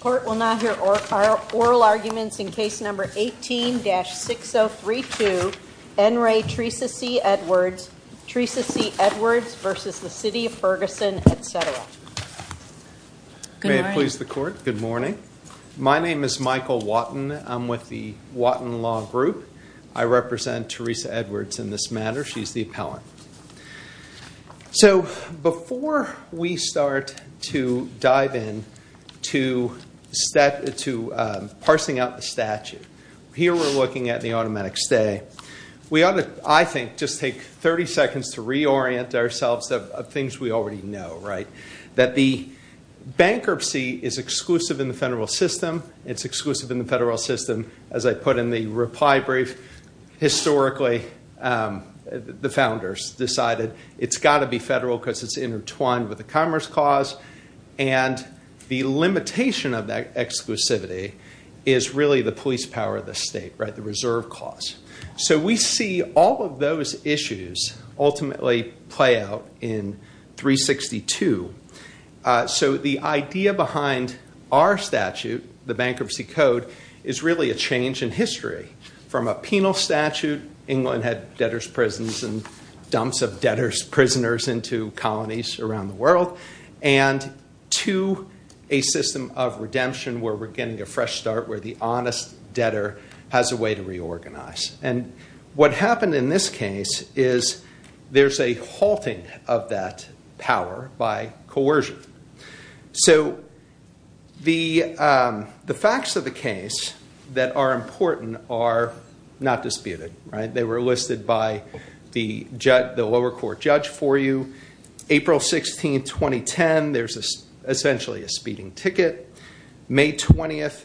Court will now hear oral arguments in case number 18-6032. N. Ray Teresa C. Edwards, Teresa C. Edwards v. The City of Ferguson, etc. May it please the court. Good morning. My name is Michael Watton. I'm with the Watton Law Group. I represent Teresa Edwards in this matter. She's the appellant. So before we start to dive in to parsing out the statute, here we're looking at the automatic stay. We ought to, I think, just take 30 seconds to reorient ourselves of things we already know, right? That the bankruptcy is exclusive in the federal system. It's exclusive in the federal system, as I put in the reply brief. Historically, the founders decided it's got to be federal because it's intertwined with the commerce clause. And the limitation of that exclusivity is really the police power of the state, right? The reserve clause. So we see all of those issues ultimately play out in 362. So the idea behind our statute, the Bankruptcy Code, is really a change in history. From a penal statute, England had debtors' prisons and dumps of debtors' prisoners into colonies around the world, and to a system of redemption where we're getting a fresh start, where the honest debtor has a way to reorganize. And what happened in this case is there's a halting of that power by coercion. So the facts of the case that are important are not disputed, right? They were listed by the lower court judge for you. April 16, 2010, there's essentially a speeding ticket. May 20th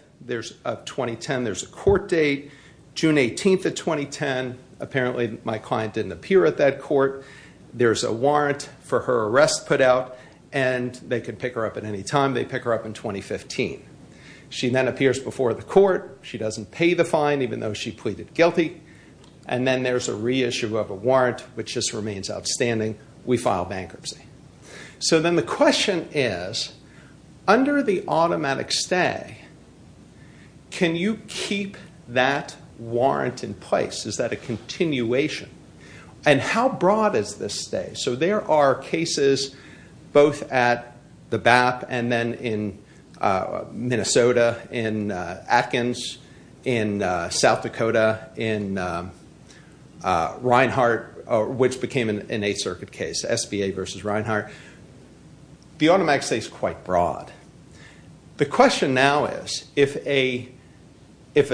of 2010, there's a court date. June 18th of 2010, apparently my client didn't appear at that court. There's a warrant for her arrest put out, and they could pick her up at any time. They pick her up in 2015. She then appears before the court. She doesn't pay the fine, even though she pleaded guilty. And then there's a reissue of a warrant, which just remains outstanding. We file bankruptcy. So then the question is, under the automatic stay, can you keep that warrant in place? Is that a continuation? And how broad is this stay? So there are cases both at the BAP and then in Minnesota, in Atkins, in South Dakota, in Reinhart, which became an Eighth Circuit case, SBA versus Reinhart. The automatic stay is quite broad. The question now is, if a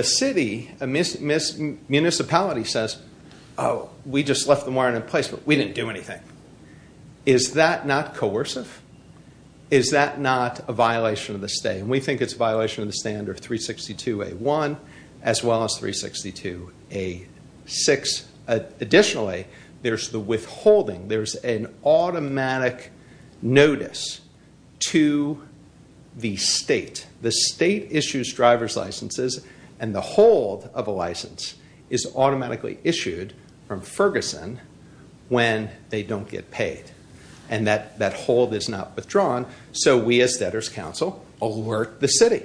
city, a municipality says, oh, we just left the warrant in place, but we didn't do anything, is that not coercive? Is that not a violation of the stay? And we think it's a violation of the stay under 362A1, as well as 362A6. Additionally, there's the withholding. There's an automatic notice to the state. The state issues driver's licenses, and the hold of a license is automatically issued from Ferguson when they don't get paid. And that hold is not withdrawn. So we, as Debtors Council, alert the city.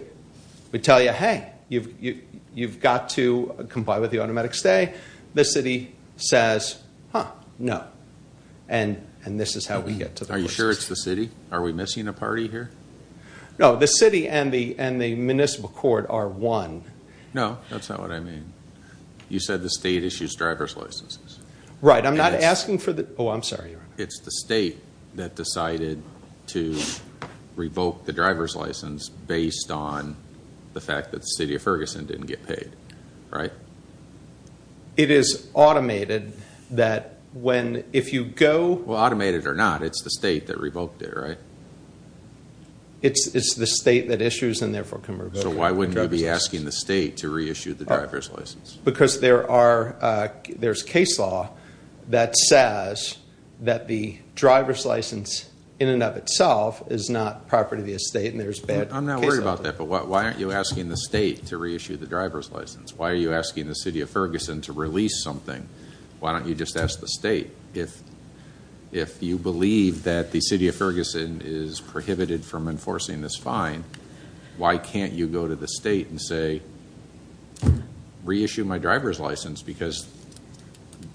We tell you, hey, you've got to comply with the automatic stay. The city says, huh, no. And this is how we get to the license. Are you sure it's the city? Are we missing a party here? No, the city and the municipal court are one. No, that's not what I mean. You said the state issues driver's licenses. Right, I'm not asking for the, oh, I'm sorry, Your Honor. It's the state that decided to revoke the driver's license based on the fact that the city of Ferguson didn't get paid, right? It is automated that when, if you go... Well, automated or not, it's the state that revoked it, right? It's the state that issues and therefore can revoke the driver's license. So why wouldn't you be asking the state to reissue the driver's license? Because there are, there's case law that says that the driver's license in and of itself is not property of the estate and there's bad case law. I'm not worried about that, but why aren't you asking the state to reissue the driver's license? Why are you asking the city of Ferguson to release something? Why don't you just ask the state? If you believe that the city of Ferguson is prohibited from enforcing this fine, why can't you go to the state and say, reissue my driver's license because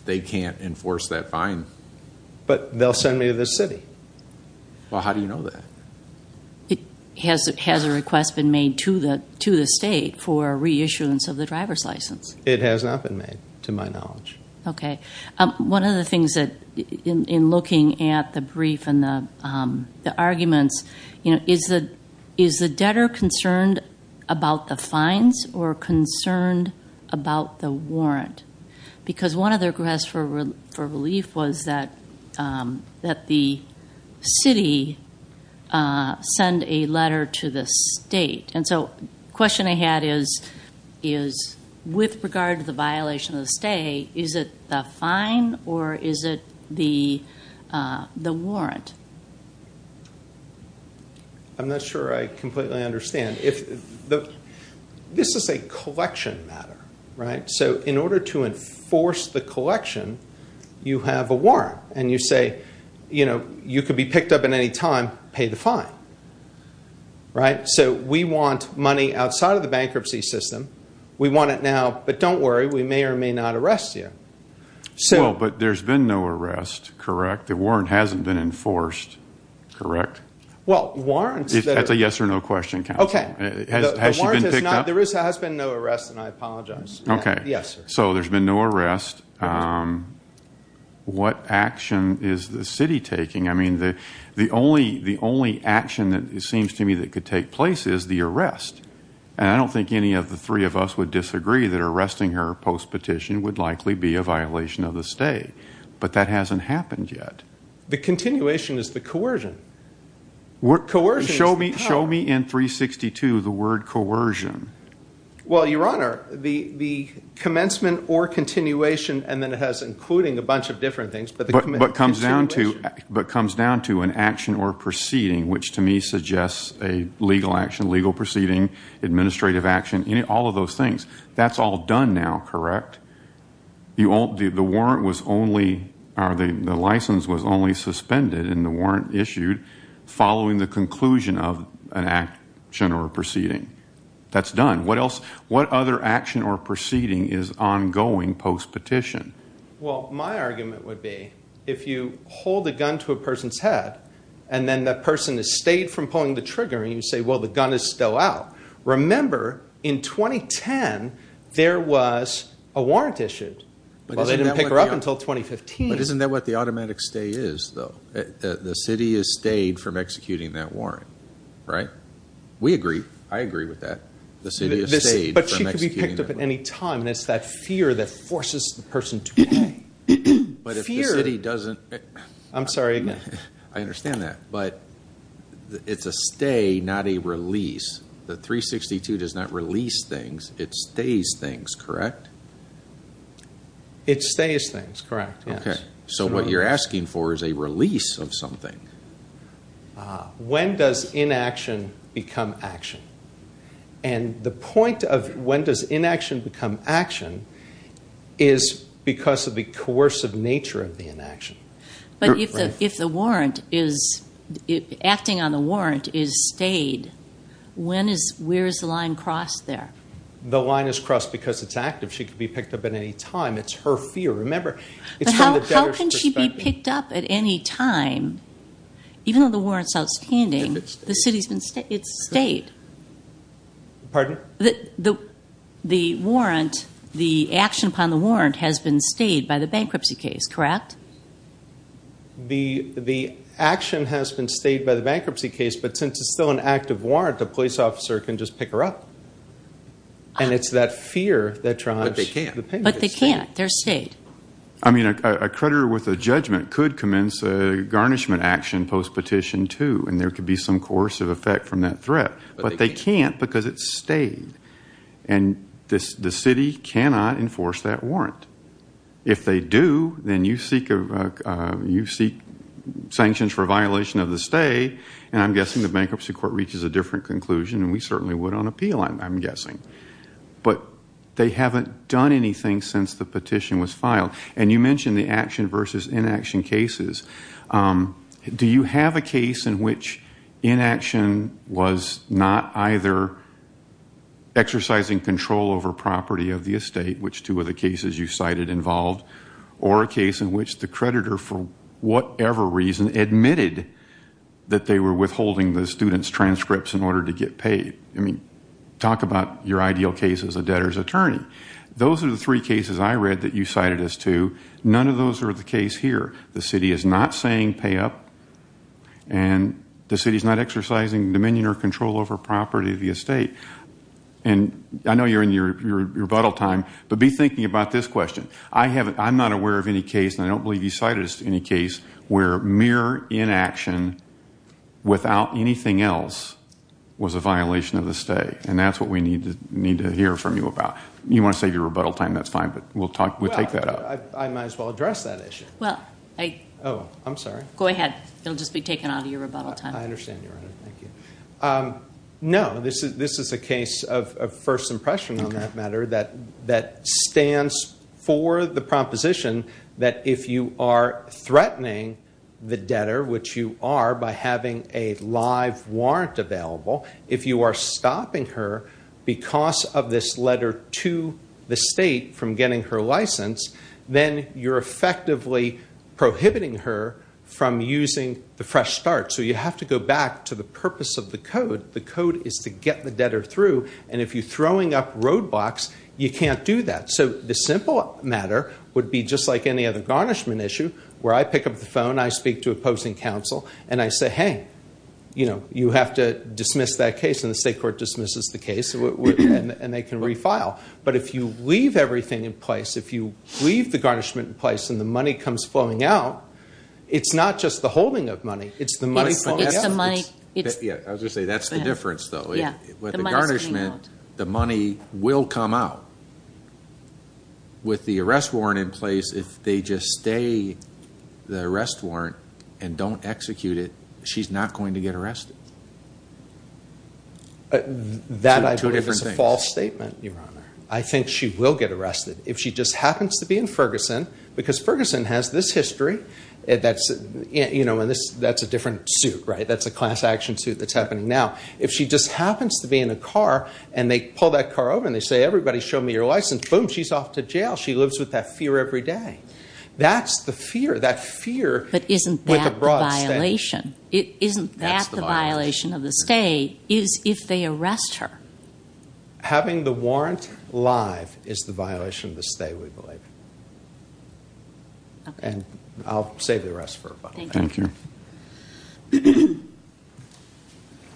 they can't enforce that fine? But they'll send me to the city. Well, how do you know that? Has a request been made to the state for a reissuance of the driver's license? Okay. One of the things that, in looking at the brief and the arguments, you know, is the debtor concerned about the fines or concerned about the warrant? Because one of their requests for relief was that the city send a letter to the state. The question I had is, with regard to the violation of the state, is it the fine or is it the warrant? I'm not sure I completely understand. This is a collection matter, right? So, in order to enforce the collection, you have a warrant. And you say, you know, you could be picked up at any time, pay the fine. Right? So, we want money outside of the bankruptcy system. We want it now. But don't worry, we may or may not arrest you. Well, but there's been no arrest, correct? The warrant hasn't been enforced, correct? Well, warrants... That's a yes or no question, counsel. Has she been picked up? The warrant has not, there has been no arrest, and I apologize. Okay. Yes, sir. So, there's been no arrest. What action is the city taking? I mean, the only action that seems to me that could take place is the arrest. And I don't think any of the three of us would disagree that arresting her post-petition would likely be a violation of the state. But that hasn't happened yet. The continuation is the coercion. Coercion is the power. Show me in 362 the word coercion. Well, Your Honor, the commencement or continuation, and then it has including a bunch of different things, but the... But comes down to an action or proceeding, which to me suggests a legal action, legal proceeding, administrative action, all of those things. That's all done now, correct? The warrant was only... The license was only suspended in the warrant issued following the conclusion of an action or proceeding. That's done. What other action or proceeding is ongoing post-petition? Well, my argument would be if you hold a gun to a person's head and then that person has stayed from pulling the trigger and you say, well, the gun is still out. Remember, in 2010, there was a warrant issued. Well, they didn't pick her up until 2015. But isn't that what the automatic stay is, though? The city has stayed from executing that warrant, right? We agree. The city has stayed from executing that warrant. And it's that fear that forces the person to pay. But if the city doesn't... I'm sorry, again. I understand that. But it's a stay, not a release. The 362 does not release things. It stays things, correct? It stays things, correct, yes. So what you're asking for is a release of something. When does inaction become action? And the point of when does inaction become action is because of the coercive nature of the inaction. But if the warrant is... Acting on the warrant is stayed, when is... Where is the line crossed there? The line is crossed because it's active. She could be picked up at any time. It's her fear. Remember, it's from the debtors' perspective. But how can she be picked up at any time? Even though the warrant's outstanding, the city's been... It's stayed. Pardon? The warrant, the action upon the warrant has been stayed by the bankruptcy case, correct? The action has been stayed by the bankruptcy case, but since it's still an active warrant, the police officer can just pick her up. And it's that fear that drives the payment. But they can't. But they can't. They're stayed. I mean, a creditor with a judgment could commence a garnishment action post-petition too, and there could be some coercive effect from that threat. But they can't because it's stayed. And the city cannot enforce that warrant. If they do, then you seek sanctions for violation of the stay, and I'm guessing the bankruptcy court reaches a different conclusion, and we certainly would on appeal, I'm guessing. But they haven't done anything since the petition was filed. And you mentioned the action versus inaction cases. Do you have a case in which inaction was not either exercising control over property of the estate, which two of the cases you cited involved, or a case in which the creditor, for whatever reason, admitted that they were withholding the student's transcripts in order to get paid? I mean, talk about your ideal case as a debtor's attorney. Those are the three cases I read that you cited as two. None of those are the case here. The city is not saying pay up, and the city is not exercising dominion or control over property of the estate. I know you're in your rebuttal time, but be thinking about this question. I'm not aware of any case, and I don't believe you cited any case, where mere inaction without anything else was a violation of the stay. And that's what we need to hear from you about. You want to save your rebuttal time, that's fine, but we'll take that up. I might as well address that issue. Oh, I'm sorry. Go ahead. It'll just be taken out of your rebuttal time. I understand, Your Honor. Thank you. No, this is a case of first impression on that matter that stands for the proposition that if you are threatening the debtor, which you are by having a live warrant available, if you are stopping her because of this letter to the state from getting her license, then you're effectively prohibiting her from using the fresh start. So you have to go back to the purpose of the code. The code is to get the debtor through, and if you're throwing up roadblocks, you can't do that. So the simple matter would be just like any other garnishment issue, where I pick up the phone, I speak to opposing counsel, and I say, hey, you have to dismiss that case. And the state court dismisses the case, and they can refile. But if you leave everything in place, if you leave the garnishment in place, and the money comes flowing out, it's not just the holding of money. It's the money flowing out. It's the money. I was going to say, that's the difference, though. With the garnishment, the money will come out. With the arrest warrant in place, if they just stay the arrest warrant and don't execute it, she's not going to get arrested. That, I believe, is a false statement, Your Honor. I think she will get arrested. If she just happens to be in Ferguson, because Ferguson has this history, that's a different suit, right? That's a class action suit that's happening now. If she just happens to be in a car, and they pull that car over, and they say, everybody show me your license, boom, she's off to jail. She lives with that fear every day. That's the fear. But isn't that the violation? Isn't that the violation? The violation of the stay is if they arrest her. Having the warrant live is the violation of the stay, we believe. And I'll save the rest for later. Thank you.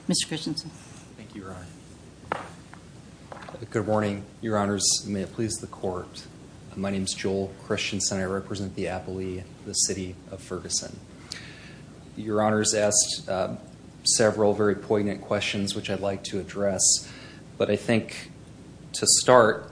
Mr. Christensen. Thank you, Your Honor. Good morning, Your Honors. May it please the Court. My name is Joel Christensen. I represent the appellee, the city of Ferguson. Your Honors asked several very poignant questions, which I'd like to address. But I think to start,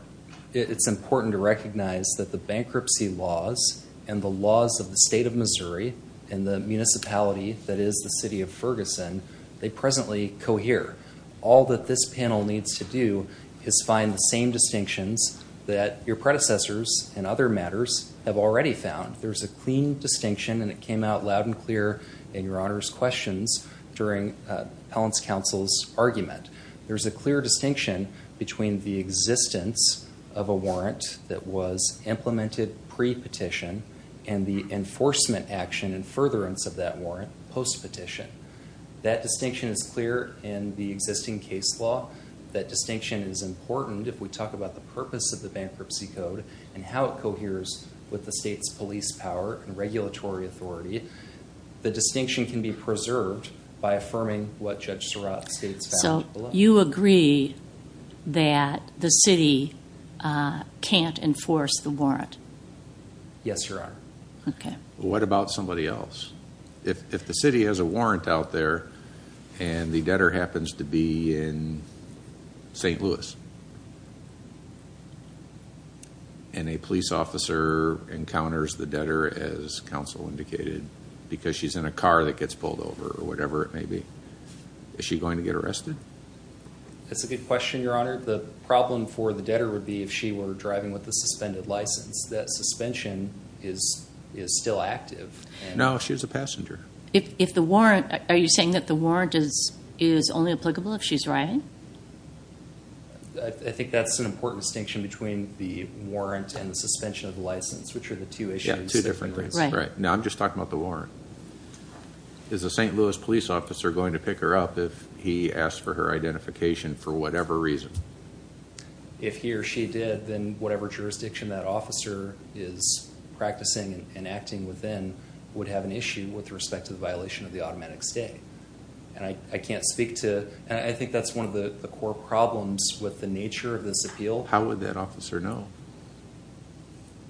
it's important to recognize that the bankruptcy laws and the laws of the state of Missouri and the municipality that is the city of Ferguson, they presently cohere. All that this panel needs to do is find the same distinctions that your predecessors in other matters have already found. There's a clean distinction, and it came out loud and clear in Your Honor's questions during Appellant's Counsel's argument. There's a clear distinction between the existence of a warrant that was implemented pre-petition and the enforcement action and furtherance of that warrant post-petition. That distinction is clear in the existing case law. That distinction is important if we talk about the purpose of the bankruptcy code and how it coheres with the state's police power and regulatory authority. The distinction can be preserved by affirming what Judge Surratt states. So you agree that the city can't enforce the warrant? Yes, Your Honor. What about somebody else? If the city has a warrant out there and the debtor happens to be in St. Louis? And a police officer encounters the debtor, as counsel indicated, because she's in a car that gets pulled over or whatever it may be, is she going to get arrested? That's a good question, Your Honor. The problem for the debtor would be if she were driving with a suspended license. That suspension is still active. No, she's a passenger. Are you saying that the warrant is only applicable if she's driving? I think that's an important distinction between the warrant and the suspension of the license, which are the two issues. Right. Now I'm just talking about the warrant. Is a St. Louis police officer going to pick her up if he asks for her identification for whatever reason? If he or she did, then whatever jurisdiction that officer is practicing and acting within would have an issue with respect to the violation of the automatic stay. I can't speak to... I think that's one of the core problems with the nature of this appeal. How would that officer know?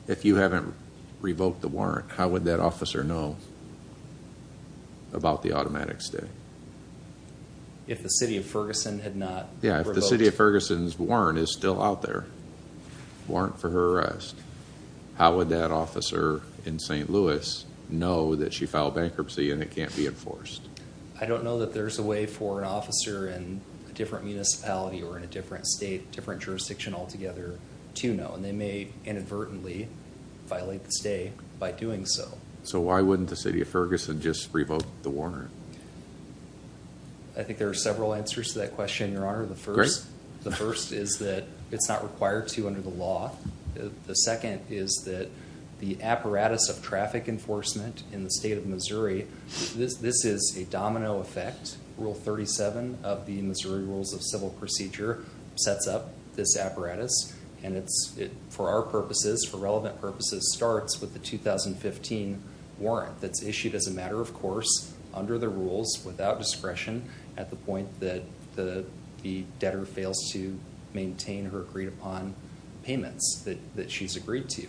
If you haven't revoked the warrant, how would that officer know about the automatic stay? If the City of Ferguson had not revoked... If the City of Ferguson's warrant is still out there, warrant for her arrest, how would that officer in St. Louis know that she filed bankruptcy and it can't be enforced? I don't know that there's a way for an officer in a different municipality or in a different state, different jurisdiction altogether, to know. And they may inadvertently violate the stay by doing so. So why wouldn't the City of Ferguson just revoke the warrant? I think there are several answers to that question, Your Honor. Great. The first is that it's not required to under the law. The second is that the apparatus of traffic enforcement in the state of Missouri, this is a domino effect. Rule 37 of the Missouri Rules of Civil Procedure sets up this apparatus. And it, for our purposes, for relevant purposes, starts with the 2015 warrant that's issued as a matter of course, under the rules, without discretion, at the point that the debtor fails to maintain her agreed upon payments that she's agreed to.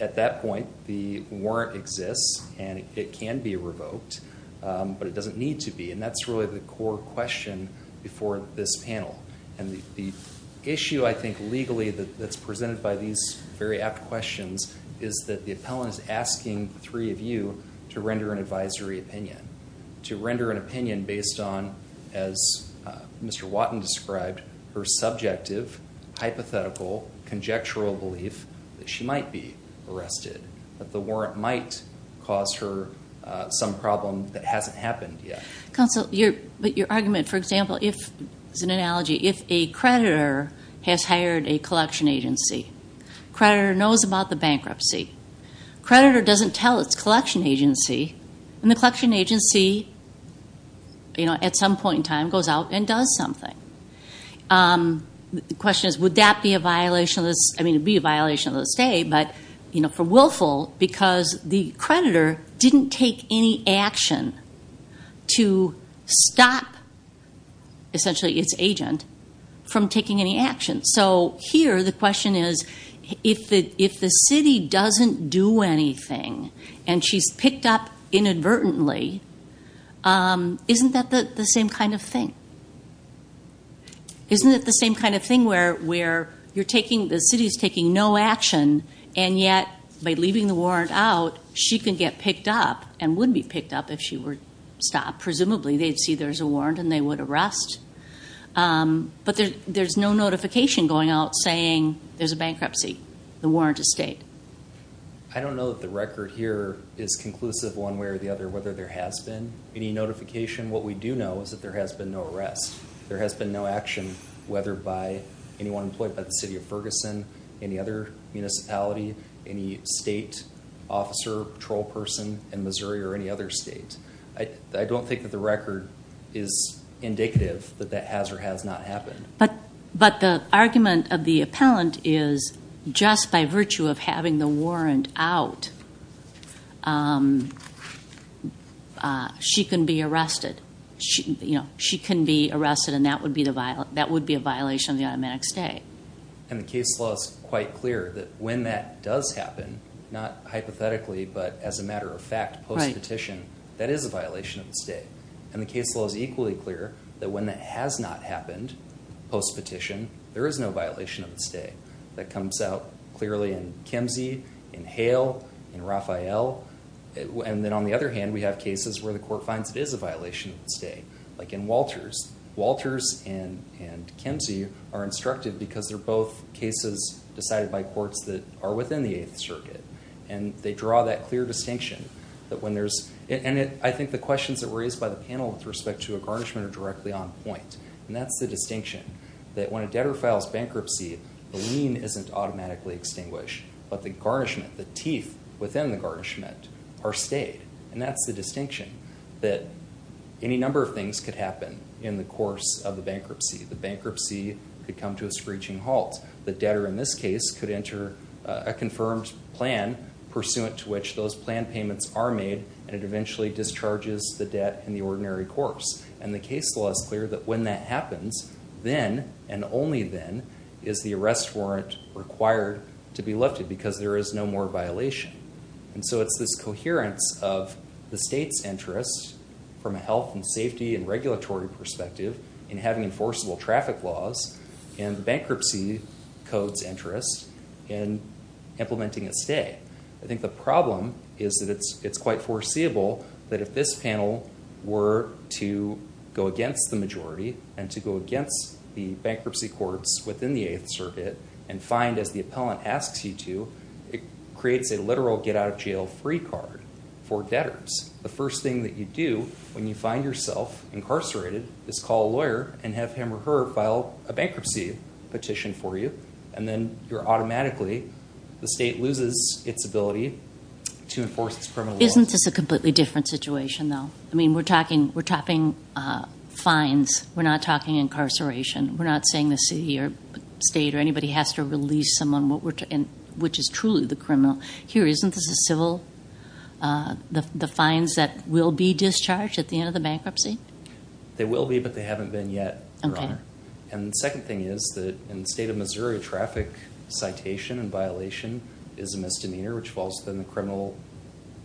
At that point, the warrant exists and it can be revoked, but it doesn't need to be. And that's really the core question before this panel. And the issue, I think, legally that's presented by these very apt questions is that the appellant is asking the three of you to render an advisory opinion. To render an opinion based on, as Mr. Watton described, her subjective, hypothetical, conjectural belief that she might be arrested, that the warrant might cause her some problem that hasn't happened yet. Counsel, but your argument, for example, if, as an analogy, if a creditor has hired a collection agency, creditor knows about the bankruptcy, creditor doesn't tell its collection agency, and the collection agency, at some point in time, goes out and does something. The question is, would that be a violation of the stay? But for Willful, because the creditor didn't take any action to stop, essentially, its agent from taking any action. So here, the question is, if the city doesn't do anything, and she's picked up inadvertently, isn't that the same kind of thing? Isn't it the same kind of thing where the city is taking no action, and yet, by leaving the warrant out, she can get picked up, and would be picked up if she were stopped. Presumably, they'd see there's a warrant, and they would arrest. But there's no notification going out saying there's a bankruptcy. The warrant is stayed. I don't know that the record here is conclusive one way or the other, whether there has been any notification. What we do know is that there has been no arrest. There has been no action, whether by anyone employed by the city of Ferguson, any other municipality, any state officer, patrol person in Missouri, or any other state. I don't think that the record is indicative that that has or has not happened. But the argument of the appellant is just by virtue of having the warrant out, she can be arrested. She can be arrested, and that would be a violation of the automatic stay. And the case law is quite clear that when that does happen, not hypothetically, but as a matter of fact, post-petition, that is a violation of the stay. And the case law is equally clear that when that has not happened, post-petition, there is no violation of the stay. That comes out clearly in Kimsey, in Hale, in Raphael. And then on the other hand, we have cases where the court finds it is a violation of the stay, like in Walters. Walters and Kimsey are instructed because they're both cases decided by courts that are within the Eighth Circuit, and they draw that clear distinction. And I think the questions that were raised by the panel with respect to a garnishment are directly on point. And that's the distinction, that when a debtor files bankruptcy, the lien isn't automatically extinguished, but the garnishment, the teeth within the garnishment are stayed. And that's the distinction, that any number of things could happen in the course of the bankruptcy. The bankruptcy could come to a screeching halt. The debtor in this case could enter a confirmed plan, pursuant to which those plan payments are made, and it eventually discharges the debt in the ordinary course. And the case law is clear that when that happens, then, and only then, is the arrest warrant required to be lifted because there is no more violation. And so it's this coherence of the state's interest from a health and safety and regulatory perspective in having enforceable traffic laws and the bankruptcy code's interest in implementing a stay. I think the problem is that it's quite foreseeable that if this panel were to go against the majority and to go against the bankruptcy courts within the Eighth Circuit and find, as the appellant asks you to, it creates a literal get-out-of-jail-free card for debtors. The first thing that you do when you find yourself incarcerated is call a lawyer and have him or her file a bankruptcy petition for you, and then you're automatically, the state loses its ability to enforce its criminal law. Isn't this a completely different situation, though? I mean, we're talking fines. We're not talking incarceration. We're not saying the city or state or anybody has to release someone which is truly the criminal. Here, isn't this a civil, the fines that will be discharged at the end of the bankruptcy? They will be, but they haven't been yet, Your Honor. And the second thing is that in the state of Missouri, traffic citation and violation is a misdemeanor which falls within the criminal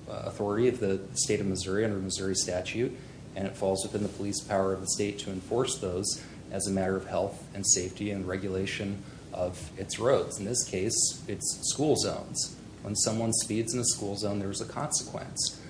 authority of the state of Missouri under Missouri statute, and it falls within the police power of the state to enforce those as a matter of health and safety and regulation of its roads. In this case, it's school zones. When someone speeds in a school zone, there's a consequence,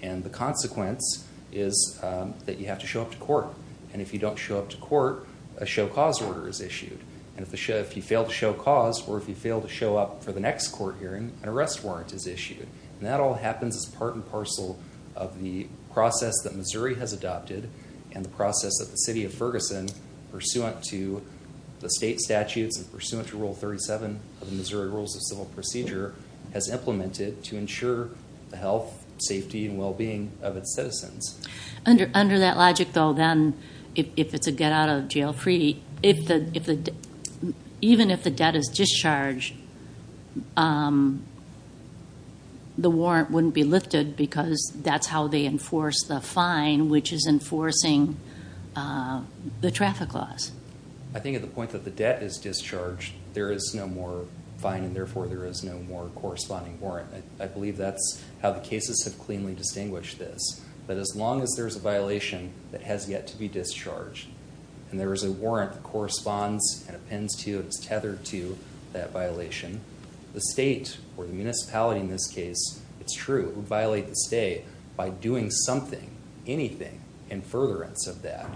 and the consequence is that you have to show up to court, and if you don't show up to court, a show cause order is issued, and if you fail to show cause or if you fail to show up for the next court hearing, an arrest warrant is issued, and that all happens as part and parcel of the process that Missouri has adopted and the process that the city of Ferguson, pursuant to the state statutes and pursuant to Rule 37 of the Missouri Rules of Civil Procedure, has implemented to ensure the health, safety, and well-being of its citizens. Under that logic, though, then, if it's a get-out-of-jail-free, even if the debt is discharged, the warrant wouldn't be lifted because that's how they enforce the fine, which is enforcing the traffic laws. I think at the point that the debt is discharged, there is no more fine, and therefore there is no more corresponding warrant. I believe that's how the cases have cleanly distinguished this, that as long as there's a violation that has yet to be discharged and there is a warrant that corresponds and appends to and is tethered to that violation, the state, or the municipality in this case, it's true, would violate the state by doing something, anything, in furtherance of that.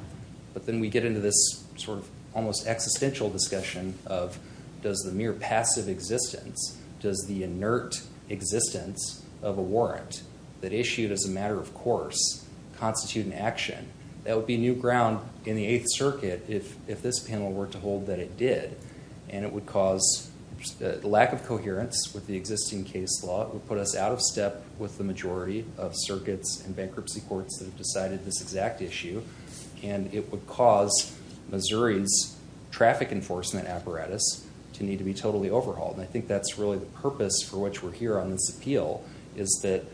But then we get into this sort of almost existential discussion of, does the mere passive existence, does the inert existence of a warrant that issued as a matter of course constitute an action? That would be new ground in the Eighth Circuit if this panel were to hold that it did, and it would cause the lack of coherence with the existing case law. It would put us out of step with the majority of circuits and bankruptcy courts that have decided this exact issue, and it would cause Missouri's traffic enforcement apparatus to need to be totally overhauled. I think that's really the purpose for which we're here on this appeal, is that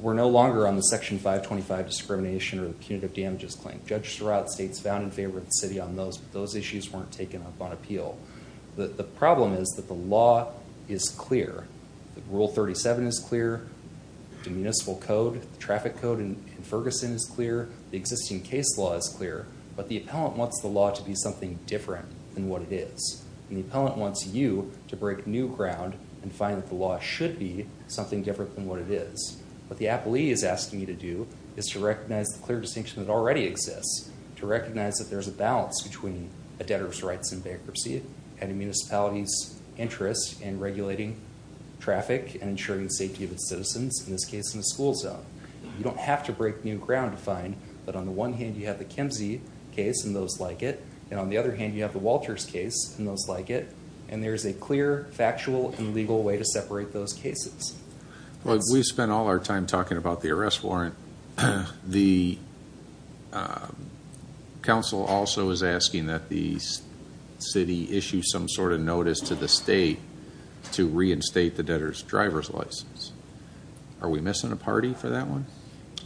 we're no longer on the Section 525 discrimination or punitive damages claim. Judges throughout the states found in favor of the city on those, but those issues weren't taken up on appeal. The problem is that the law is clear. Rule 37 is clear. The municipal code, the traffic code in Ferguson is clear. The existing case law is clear. But the appellant wants the law to be something different than what it is, and the appellant wants you to break new ground and find that the law should be something different than what it is. What the appellee is asking you to do is to recognize the clear distinction that already exists, to recognize that there's a balance between a debtor's rights in bankruptcy and a municipality's interest in regulating traffic and ensuring the safety of its citizens, in this case in a school zone. You don't have to break new ground to find that on the one hand you have the Kemzee case and those like it, and on the other hand you have the Walters case and those like it, and there's a clear, factual, and legal way to separate those cases. We've spent all our time talking about the arrest warrant. The council also is asking that the city issue some sort of notice to the state to reinstate the debtor's driver's license. Are we missing a party for that one?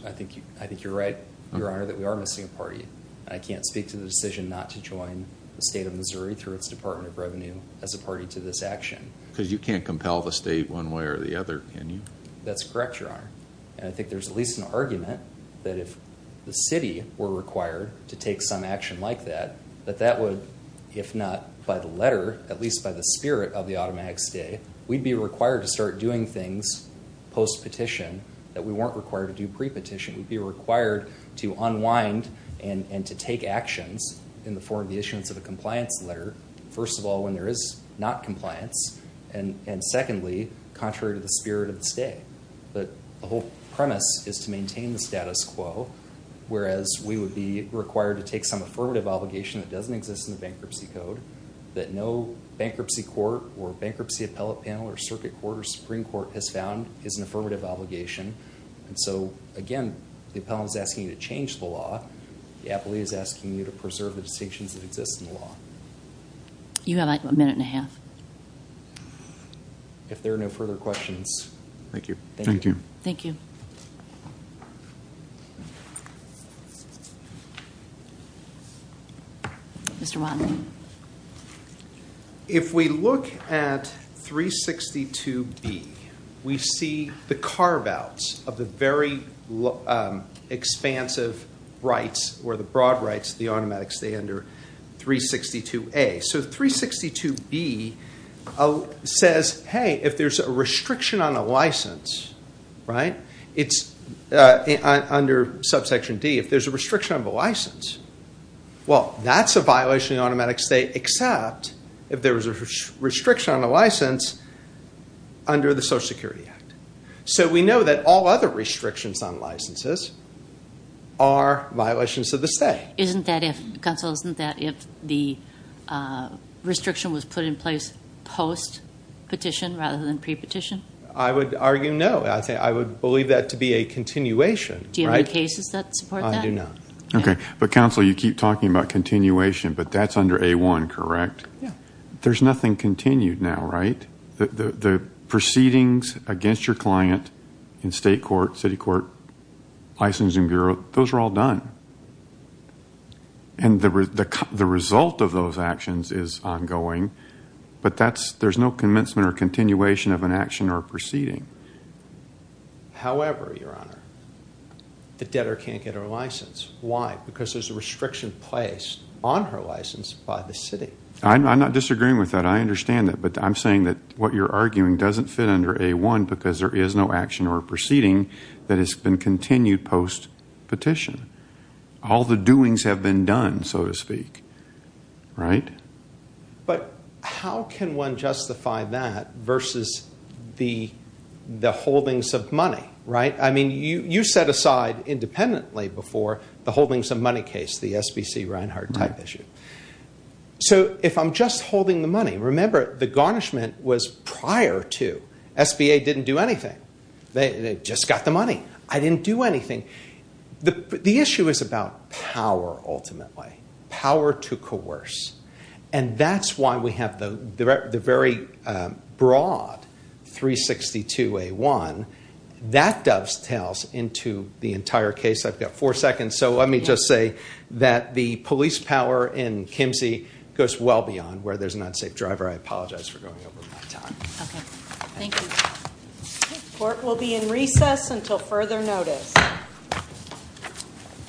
I think you're right, Your Honor, that we are missing a party. I can't speak to the decision not to join the State of Missouri through its Department of Revenue as a party to this action. Because you can't compel the state one way or the other, can you? That's correct, Your Honor, and I think there's at least an argument that if the city were required to take some action like that, that that would, if not by the letter, at least by the spirit of the automatic stay, we'd be required to start doing things post-petition that we weren't required to do pre-petition. We'd be required to unwind and to take actions in the form of the issuance of a compliance letter. First of all, when there is not compliance, and secondly, contrary to the spirit of the stay. But the whole premise is to maintain the status quo, whereas we would be required to take some affirmative obligation that doesn't exist in the bankruptcy code, that no bankruptcy court or bankruptcy appellate panel or circuit court or Supreme Court has found is an affirmative obligation. And so, again, the appellant is asking you to change the law. The appellate is asking you to preserve the distinctions that exist in the law. You have a minute and a half. If there are no further questions. Thank you. Thank you. Mr. Wattenberg. If we look at 362B, we see the carve-outs of the very expansive rights or the broad rights of the automatic stay under 362A. So 362B says, hey, if there's a restriction on a license, right, it's under subsection D, if there's a restriction on the license, well, that's a violation of the automatic stay, except if there's a restriction on the license under the Social Security Act. So we know that all other restrictions on licenses are violations of the stay. Counsel, isn't that if the restriction was put in place post-petition rather than pre-petition? I would argue no. I would believe that to be a continuation. Do you have any cases that support that? I do not. Okay. But, counsel, you keep talking about continuation, but that's under A1, correct? Yeah. There's nothing continued now, right? The proceedings against your client in state court, city court, licensing bureau, those are all done. And the result of those actions is ongoing, but there's no commencement or continuation of an action or proceeding. However, Your Honor, the debtor can't get her license. Why? Because there's a restriction placed on her license by the city. I'm not disagreeing with that. I understand that. But I'm saying that what you're arguing doesn't fit under A1 because there is no action or proceeding that has been continued post-petition. All the doings have been done, so to speak, right? But how can one justify that versus the holdings of money, right? I mean, you set aside independently before the holdings of money case, the SBC Reinhart type issue. So if I'm just holding the money, remember, the garnishment was prior to. SBA didn't do anything. They just got the money. I didn't do anything. The issue is about power ultimately, power to coerce. And that's why we have the very broad 362A1. That dovetails into the entire case. I've got four seconds, so let me just say that the police power in Kimsey goes well beyond where there's an unsafe driver. I apologize for going over my time. Okay. Thank you. Court will be in recess until further notice.